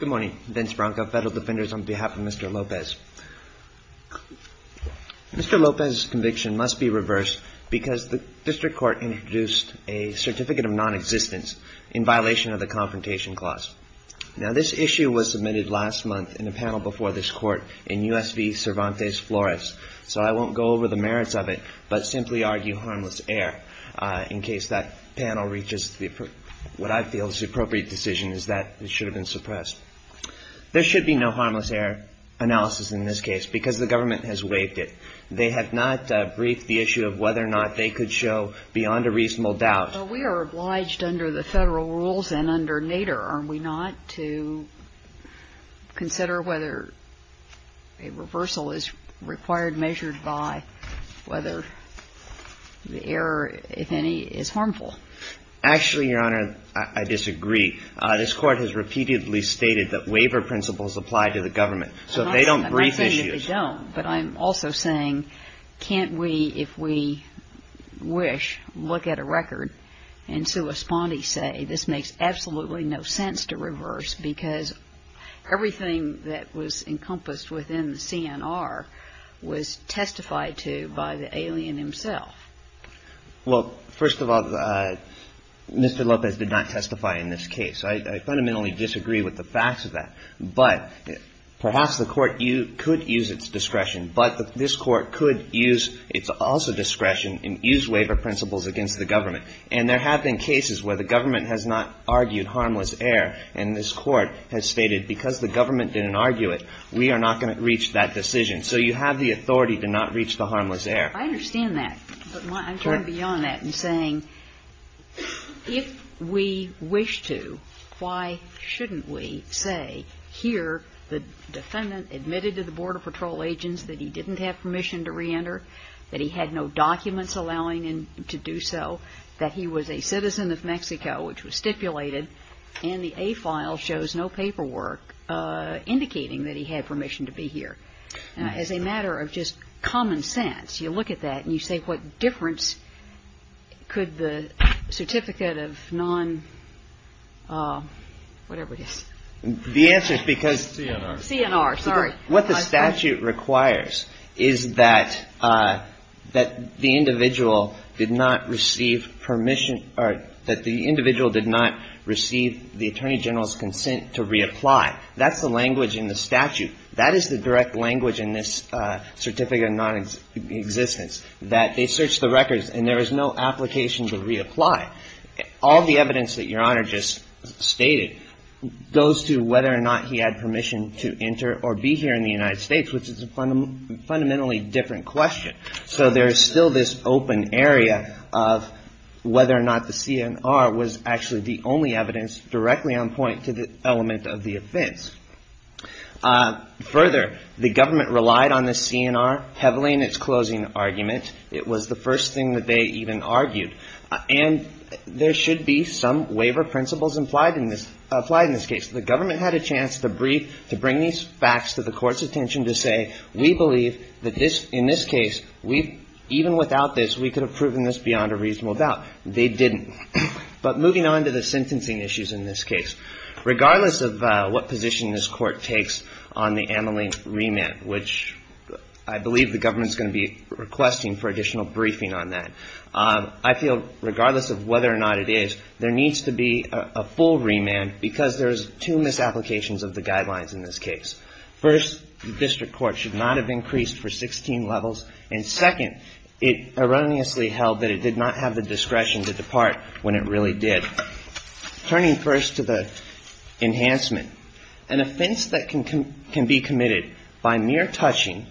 Good morning. Vince Branca, Federal Defenders on behalf of Mr. Lopez. Mr. Lopez's conviction must be reversed because the district court introduced a certificate of nonexistence in violation of the Confrontation Clause. Now this issue was submitted last month in a panel before this court in U.S. v. Cervantes Flores, so I won't go over the merits of it, but simply argue harmless error in case that panel reaches what I feel is the appropriate decision is that it should have been suppressed. There should be no harmless error analysis in this case because the government has waived it. They have not briefed the issue of whether or not they could show beyond a reasonable doubt. But we are obliged under the Federal rules and under NADER, are we not, to consider whether a reversal is required, measured by whether the error, if any, is harmful? Actually, Your Honor, I disagree. This court has repeatedly stated that waiver principles apply to the government. So if they don't brief issues I'm not saying that they don't, but I'm also saying can't we, if we wish, look at a record and so responde say this makes absolutely no sense to reverse because everything that was encompassed within the CNR was testified to by the alien himself. Well, first of all, Mr. Lopez did not testify in this case. I fundamentally disagree with the facts of that. But perhaps the Court could use its discretion, but this Court could use its also discretion and use waiver principles against the government. And there have been cases where the government has not argued harmless error, and this Court has stated because the government didn't argue it, we are not going to reach that decision. So you have the authority to not reach the harmless error. I understand that, but I'm trying to be on that and saying if we wish to, why shouldn't we say here the defendant admitted to the Border Patrol agents that he didn't have permission to reenter, that he had no documents allowing him to do so, that he was a citizen of Mexico, which was stipulated, and the A file shows no paperwork indicating that he had permission to be here. As a matter of just common sense, you look at that, and you say what difference could the certificate of non-whatever it is. The answer is because CNR, sorry. What the statute requires is that the individual did not receive permission or that the individual did not receive the Attorney General's consent to reapply. That's the language in the statute. That is the direct language in this certificate of nonexistence, that they searched the records and there is no application to reapply. All the evidence that Your Honor just stated goes to whether or not he had permission to enter or be here in the United States, which is a fundamentally different question. So there is still this open area of whether or not the CNR was actually the only evidence directly on point to the element of the offense. Further, the government relied on this CNR heavily in its closing argument. It was the first thing that they even argued, and there should be some waiver principles implied in this case. The government had a chance to bring these facts to the court's attention to say we believe that in this case, even without this, we could have proven this beyond a reasonable doubt. They didn't. But moving on to the sentencing issues in this case, regardless of what position this court takes on the Amelink remand, which I believe the government is going to be requesting for additional briefing on that, I feel regardless of whether or not it is, there needs to be a full remand because there's two misapplications of the guidelines in this case. First, the district court should not have increased for 16 levels, and second, it erroneously held that it did not have the discretion to depart when it really did. Turning first to the enhancement, an offense that can be committed by mere touching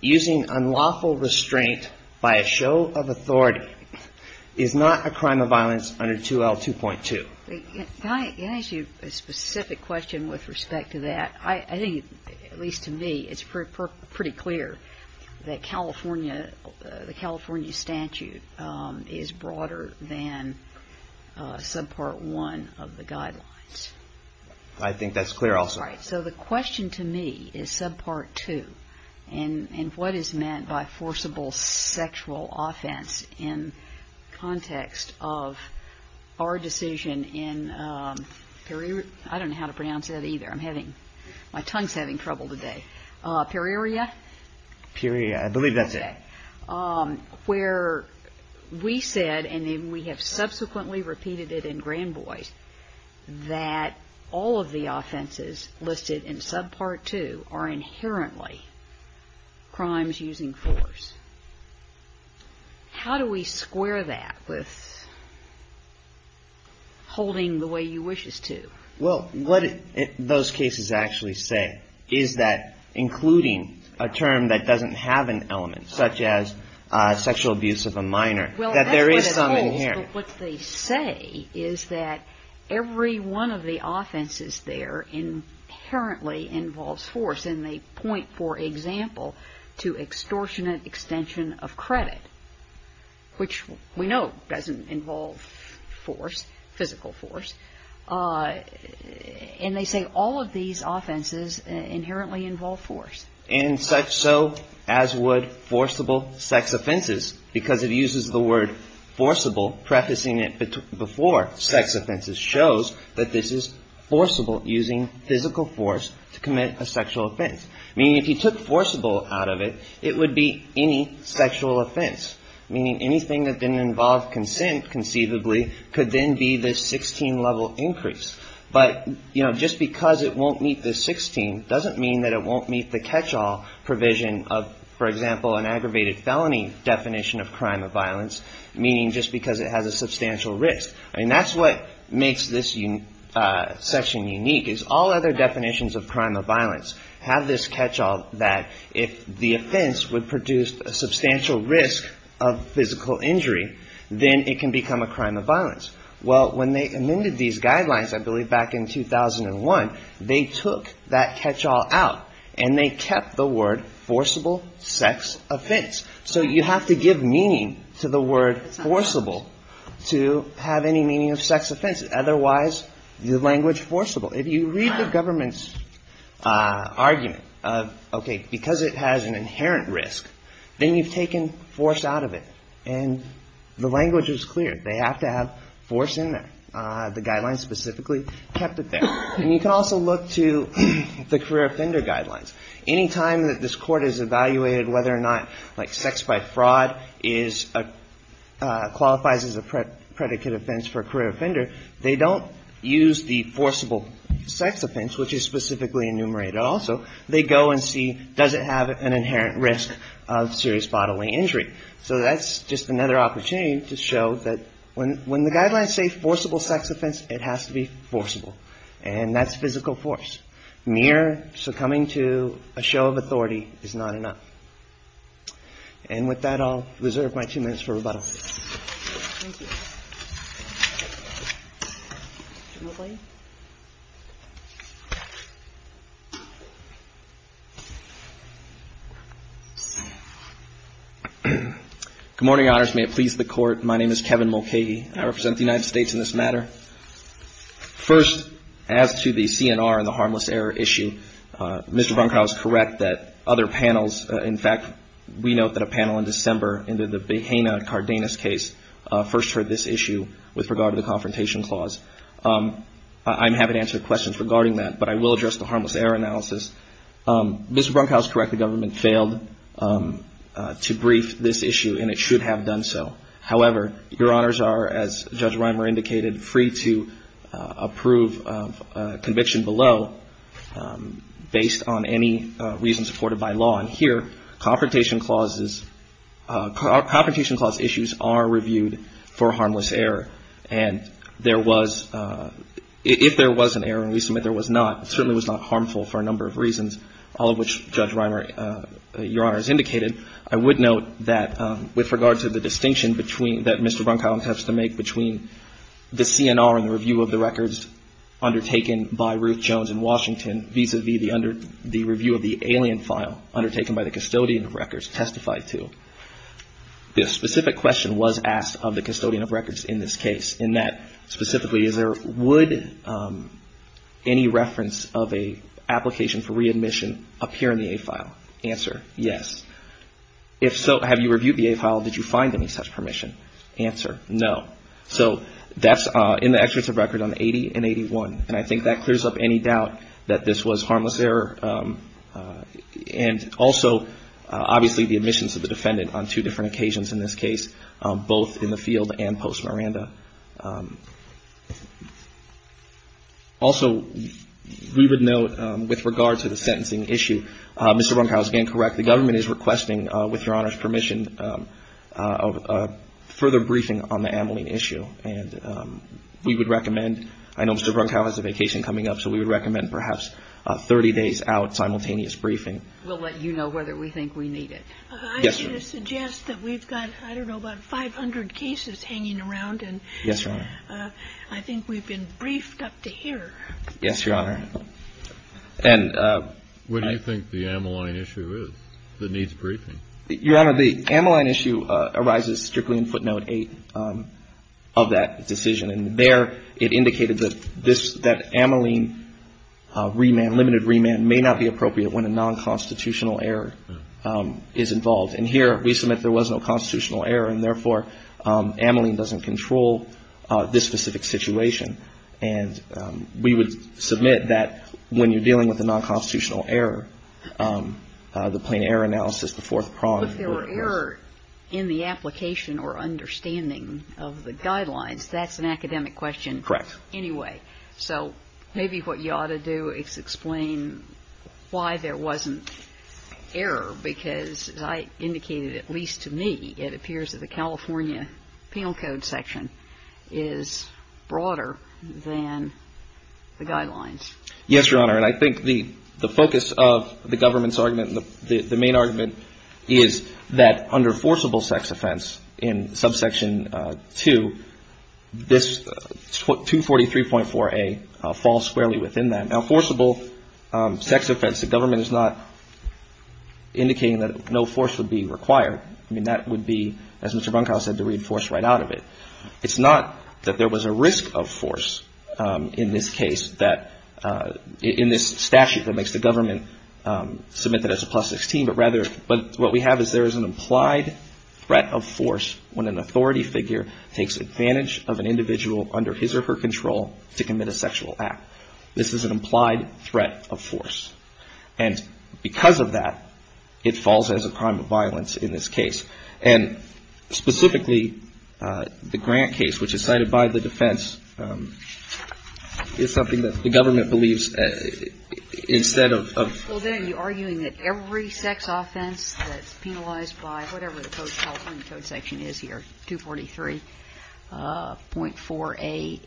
using unlawful restraint by a show of authority is not a crime of violence under 2L2.2. Can I ask you a specific question with respect to that? I think, at least to me, it's pretty clear that California, the California statute is broader than Subpart 1 of the guidelines. I think that's clear also. So the question to me is Subpart 2, and what is meant by forcible sexual offense in context of our decision in, I don't know how to pronounce that either, I'm having, my tongue's having trouble today, Pereira? Pereira, I believe that's it. Where we said, and we have subsequently repeated it in Grand Boys, that all of the offenses listed in Subpart 2 are inherently crimes using force. How do we square that with holding the way you wish us to? Well, what those cases actually say is that, including a term that doesn't have an element, such as sexual abuse of a minor, that there is some inherent. Well, that's what it holds, but what they say is that every one of the offenses there inherently involves force, and they point, for example, to extortionate extension of credit, which we know doesn't involve force, physical force, and they say all of these offenses inherently involve force. And such so as would forcible sex offenses, because it uses the word forcible, prefacing it before sex offenses shows that this is forcible, using physical force to commit a sexual offense. Meaning if you took forcible out of it, it would be any sexual offense, meaning anything that didn't involve consent, conceivably, could then be the 16-level increase. But just because it won't meet the 16 doesn't mean that it won't meet the catch-all provision of, for example, an aggravated felony definition of crime of violence, meaning just because it has a substantial risk. That's what makes this section unique, is all other definitions of crime of violence have this catch-all that if the offense would produce a substantial risk of physical injury, then it can become a crime of violence. Well, when they amended these guidelines, I believe back in 2001, they took that catch-all out and they kept the word forcible sex offense. So you have to give meaning to the word forcible to have any meaning of sex offense. Otherwise, the language forcible. If you read the government's argument, okay, because it has an inherent risk, then you've taken force out of it, and the language is clear. They have to have force in there. The guidelines specifically kept it there. And you can also look to the career offender guidelines. Any time that this court has evaluated whether or not sex by fraud qualifies as a predicate offense for a career offender, they don't use the forcible sex offense, which is specifically enumerated also. They go and see, does it have an inherent risk of serious bodily injury? So that's just another opportunity to show that when the guidelines say forcible sex offense, it has to be forcible. And that's physical force. Mere succumbing to a show of authority is not enough. And with that, I'll reserve my two minutes for rebuttal. Good morning, Your Honors. May it please the Court. My name is Kevin Mulcahy. I represent the United States in this matter. First, as to the CNR and the harmless error issue, Mr. Brunkhaus is correct that other panels, in fact, we note that a panel in December into the Behena-Cardenas case first heard this issue with regard to the confrontation clause. I'm happy to answer questions regarding that, but I will address the harmless error analysis. Mr. Brunkhaus is correct. The government failed to brief this issue, and it should have done so. However, Your Honors are, as Judge Reimer indicated, free to approve a conviction below based on any reason supported by law. And here, confrontation clause issues are reviewed for harmless error. And if there was an error, and we submit there was not, it certainly was not harmful for a number of reasons, all of which Judge Reimer, Your Honors, indicated. I would note that with regard to the distinction that Mr. Brunkhaus has to make between the CNR and the review of the records undertaken by Ruth Jones in Washington, vis-a-vis the review of the alien file undertaken by the custodian of records testified to. The specific question was asked of the custodian of records in this case, and that specifically, is there, would any reference of an application for readmission appear in the A file? Answer, yes. If so, have you reviewed the A file, did you find any such permission? Answer, no. So that's in the excerpts of record on 80 and 81, and I think that clears up any doubt that this was harmless error. And also, obviously the admissions of the defendant on two different occasions in this case, both in the field and post-Miranda. And I think that's all I have to say. Mr. Brunkhaus, again, correct, the government is requesting, with Your Honors' permission, a further briefing on the Ameline issue. And we would recommend, I know Mr. Brunkhaus has a vacation coming up, so we would recommend perhaps a 30 days out simultaneous briefing. We'll let you know whether we think we need it. Yes, Your Honor. I should suggest that we've got, I don't know, about 500 cases hanging around. Yes, Your Honor. I think we've been briefed up to here. Yes, Your Honor. And I think the Ameline issue is, that needs briefing. Your Honor, the Ameline issue arises strictly in footnote 8 of that decision. And there it indicated that this, that Ameline remand, limited remand, may not be appropriate when a non-constitutional error is involved. And here we submit there was no constitutional error, and therefore Ameline doesn't control this specific situation. And we would submit that when you're dealing with a non-constitutional error, the plain error analysis, the fourth prong. Well, if there were error in the application or understanding of the guidelines, that's an academic question anyway. Correct. So maybe what you ought to do is explain why there wasn't error, because as I indicated, at least to me, it appears that the California Penal Code section is broader than the guidelines. Yes, Your Honor. And I think the focus of the government's argument, the main argument, is that under forcible sex offense in subsection 2, this 243.4a falls squarely within that. Now, forcible sex offense, the government is not indicating that no force would be required. I mean, that would be, as Mr. Bunkow said, to read force right out of it. It's not that there was a risk of force in this case, in this statute that makes the government submit that as a plus 16, but what we have is there is an implied threat of force when an authority figure takes advantage of an individual under his or her control to commit a sexual act. This is an implied threat of force. And because of that, it falls as a crime of violence in this case. And specifically, the Grant case, which is cited by the defense, is something that the government believes instead of ---- Well, then, you're arguing that every sex offense that's penalized by whatever the California Code section is here, 243.4a,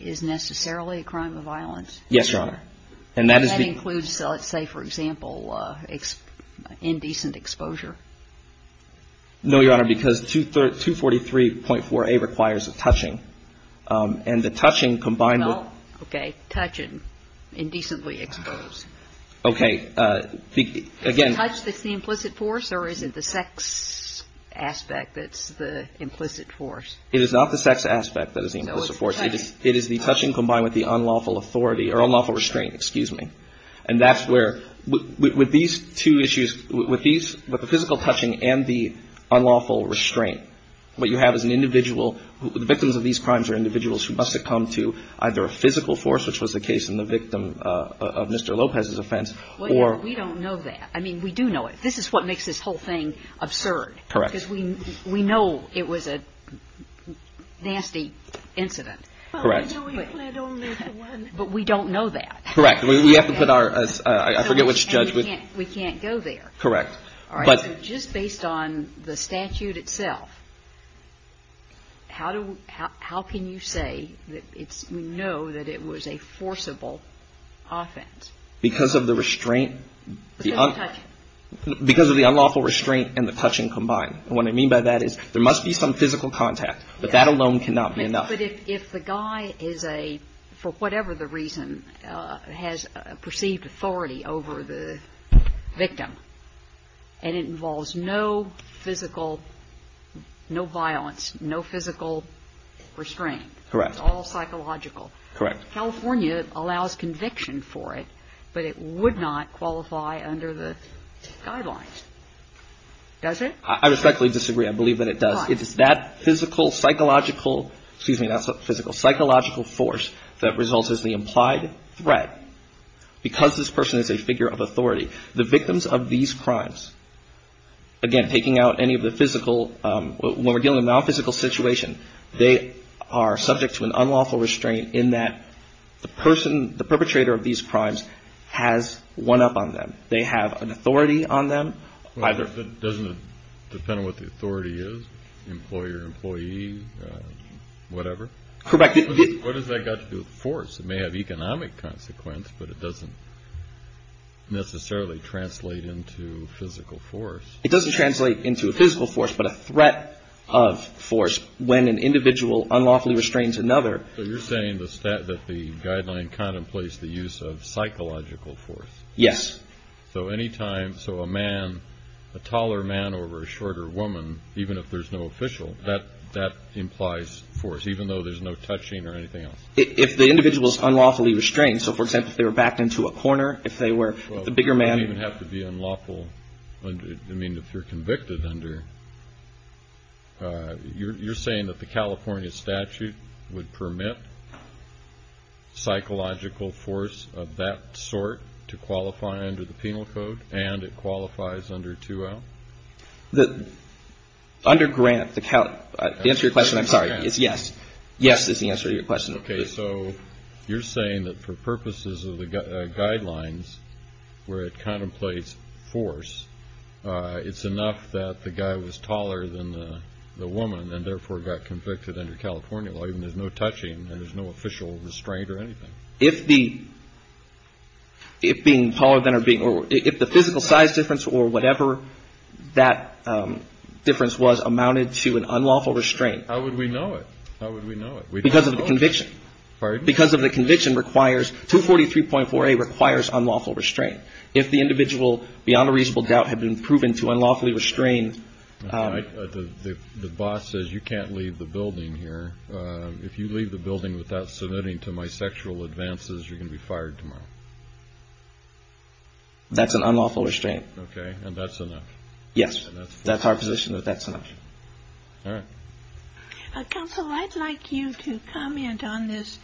is necessarily a crime of violence? Yes, Your Honor. And that includes, let's say, for example, indecent exposure. No, Your Honor, because 243.4a requires a touching. And the touching combined with ---- Well, okay. Touching, indecently exposed. Okay. Again ---- Is the touch that's the implicit force or is it the sex aspect that's the implicit force? It is not the sex aspect that is the implicit force. It is the touching combined with the unlawful authority or unlawful restraint, excuse me. And that's where, with these two issues, with these, with the physical touching and the unlawful restraint, what you have is an individual who, the victims of these crimes are individuals who must have come to either a physical force, which was the case in the victim of Mr. Lopez's offense, or ---- We don't know that. I mean, we do know it. This is what makes this whole thing absurd. Correct. Because we know it was a nasty incident. Correct. But we don't know that. Correct. We have to put our, I forget which judge ---- And we can't go there. Correct. All right. So just based on the statute itself, how can you say that we know that it was a forcible offense? Because of the restraint ---- Because of the touching. Because of the unlawful restraint and the touching combined. And what I mean by that is there must be some physical contact, but that alone cannot be enough. But if the guy is a, for whatever the reason, has perceived authority over the victim, and it involves no physical, no violence, no physical restraint. Correct. It's all psychological. Correct. California allows conviction for it, but it would not qualify under the guidelines. Does it? I respectfully disagree. I believe that it does. It is that physical, psychological, excuse me, not physical, psychological force that results as the implied threat because this person is a figure of authority. The victims of these crimes, again, taking out any of the physical, when we're dealing with a nonphysical situation, they are subject to an unlawful restraint in that the person, the perpetrator of these crimes has one up on them. They have an authority on them. Doesn't it depend on what the authority is? Employer, employee, whatever. Correct. What has that got to do with force? It may have economic consequence, but it doesn't necessarily translate into physical force. It doesn't translate into a physical force, but a threat of force when an individual unlawfully restrains another. So you're saying that the guideline contemplates the use of psychological force. Yes. So any time so a man, a taller man or a shorter woman, even if there's no official that that implies force, even though there's no touching or anything else. If the individual is unlawfully restrained. So, for example, if they were backed into a corner, if they were the bigger man, you have to be unlawful. I mean, if you're convicted under. You're saying that the California statute would permit. Psychological force of that sort to qualify under the penal code and it qualifies under to the under grant. The answer to your question. I'm sorry. Yes. Yes. Is the answer to your question. OK, so you're saying that for purposes of the guidelines where it contemplates force, it's enough that the guy was taller than the woman and therefore got convicted under California law. There's no touching and there's no official restraint or anything. If the if being taller than or being or if the physical size difference or whatever, that difference was amounted to an unlawful restraint. How would we know it? How would we know it? Because of the conviction. Because of the conviction requires to forty three point four. It requires unlawful restraint. If the individual beyond a reasonable doubt had been proven to unlawfully restrained. The boss says you can't leave the building here. If you leave the building without submitting to my sexual advances, you're going to be fired tomorrow. That's an unlawful restraint. OK. And that's enough. Yes. That's our position that that's enough. All right. Counsel, I'd like you to comment on this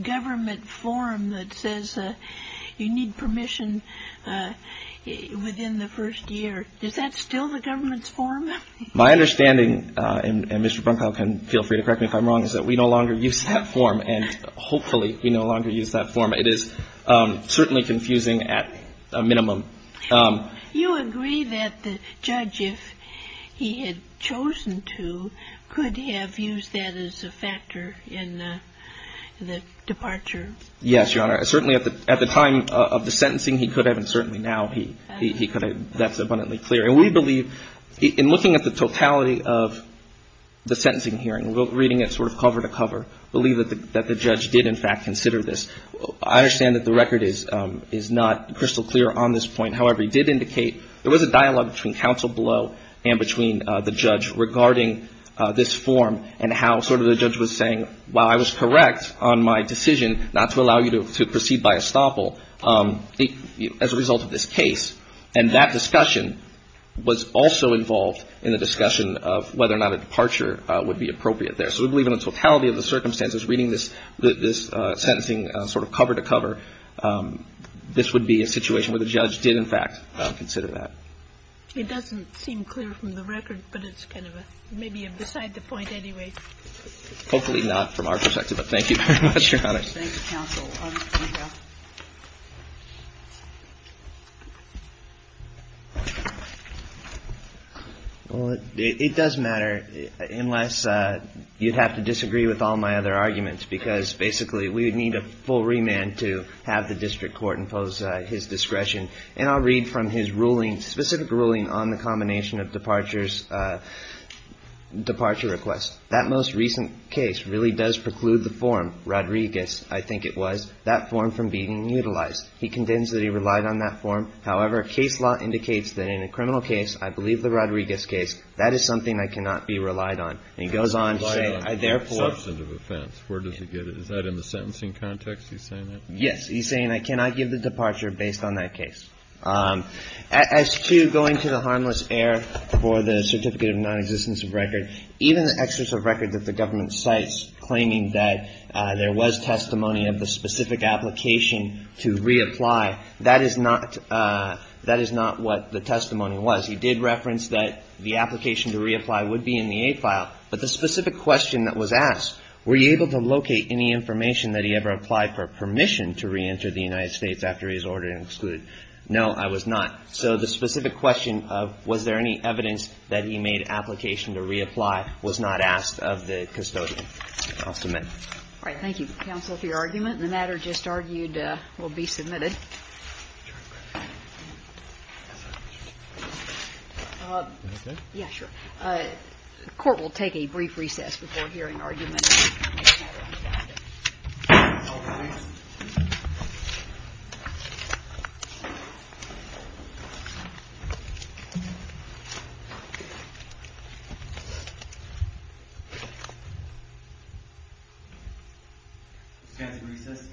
government form that says you need permission within the first year. Is that still the government's form? My understanding and Mr. Bronco can feel free to correct me if I'm wrong, is that we no longer use that form. And hopefully we no longer use that form. It is certainly confusing at a minimum. You agree that the judge, if he had chosen to, could have used that as a factor in the departure? Yes, Your Honor. Certainly at the time of the sentencing, he could have. And certainly now he could have. That's abundantly clear. And we believe in looking at the totality of the sentencing hearing, reading it sort of cover to cover, believe that the judge did in fact consider this. I understand that the record is not crystal clear on this point. However, he did indicate there was a dialogue between counsel below and between the judge regarding this form and how sort of the judge was saying, well, I was correct on my decision not to allow you to proceed by estoppel as a result of this case. And that discussion was also involved in the discussion of whether or not a departure would be appropriate there. So we believe in the totality of the circumstances, reading this sentencing sort of cover to cover, this would be a situation where the judge did in fact consider that. It doesn't seem clear from the record, but it's kind of maybe beside the point anyway. Hopefully not from our perspective, but thank you very much, Your Honor. Thank you, counsel. Well, it does matter, unless you'd have to disagree with all my other arguments, because basically we would need a full remand to have the district court impose his discretion. And I'll read from his ruling, specific ruling on the combination of departures, departure requests. That most recent case really does preclude the form, Rodriguez, I think it was, that form from being utilized. He condemns that he relied on that form. However, case law indicates that in a criminal case, I believe the Rodriguez case, that is something I cannot be relied on. And he goes on to say, therefore. Substantive offense. Where does he get it? Is that in the sentencing context he's saying that? Yes, he's saying I cannot give the departure based on that case. As to going to the harmless heir for the certificate of nonexistence of record, even the excess of record that the government cites claiming that there was testimony of the specific application to reapply, that is not what the testimony was. He did reference that the application to reapply would be in the aid file. But the specific question that was asked, were you able to locate any information that he ever applied for permission to reenter the United States after his order to exclude? No, I was not. So the specific question of was there any evidence that he made application to reapply was not asked of the custodian. I'll submit. All right. Thank you, counsel, for your argument. And the matter just argued will be submitted. The Court will take a brief recess before hearing arguments. All rise. Stand for recess. Recess.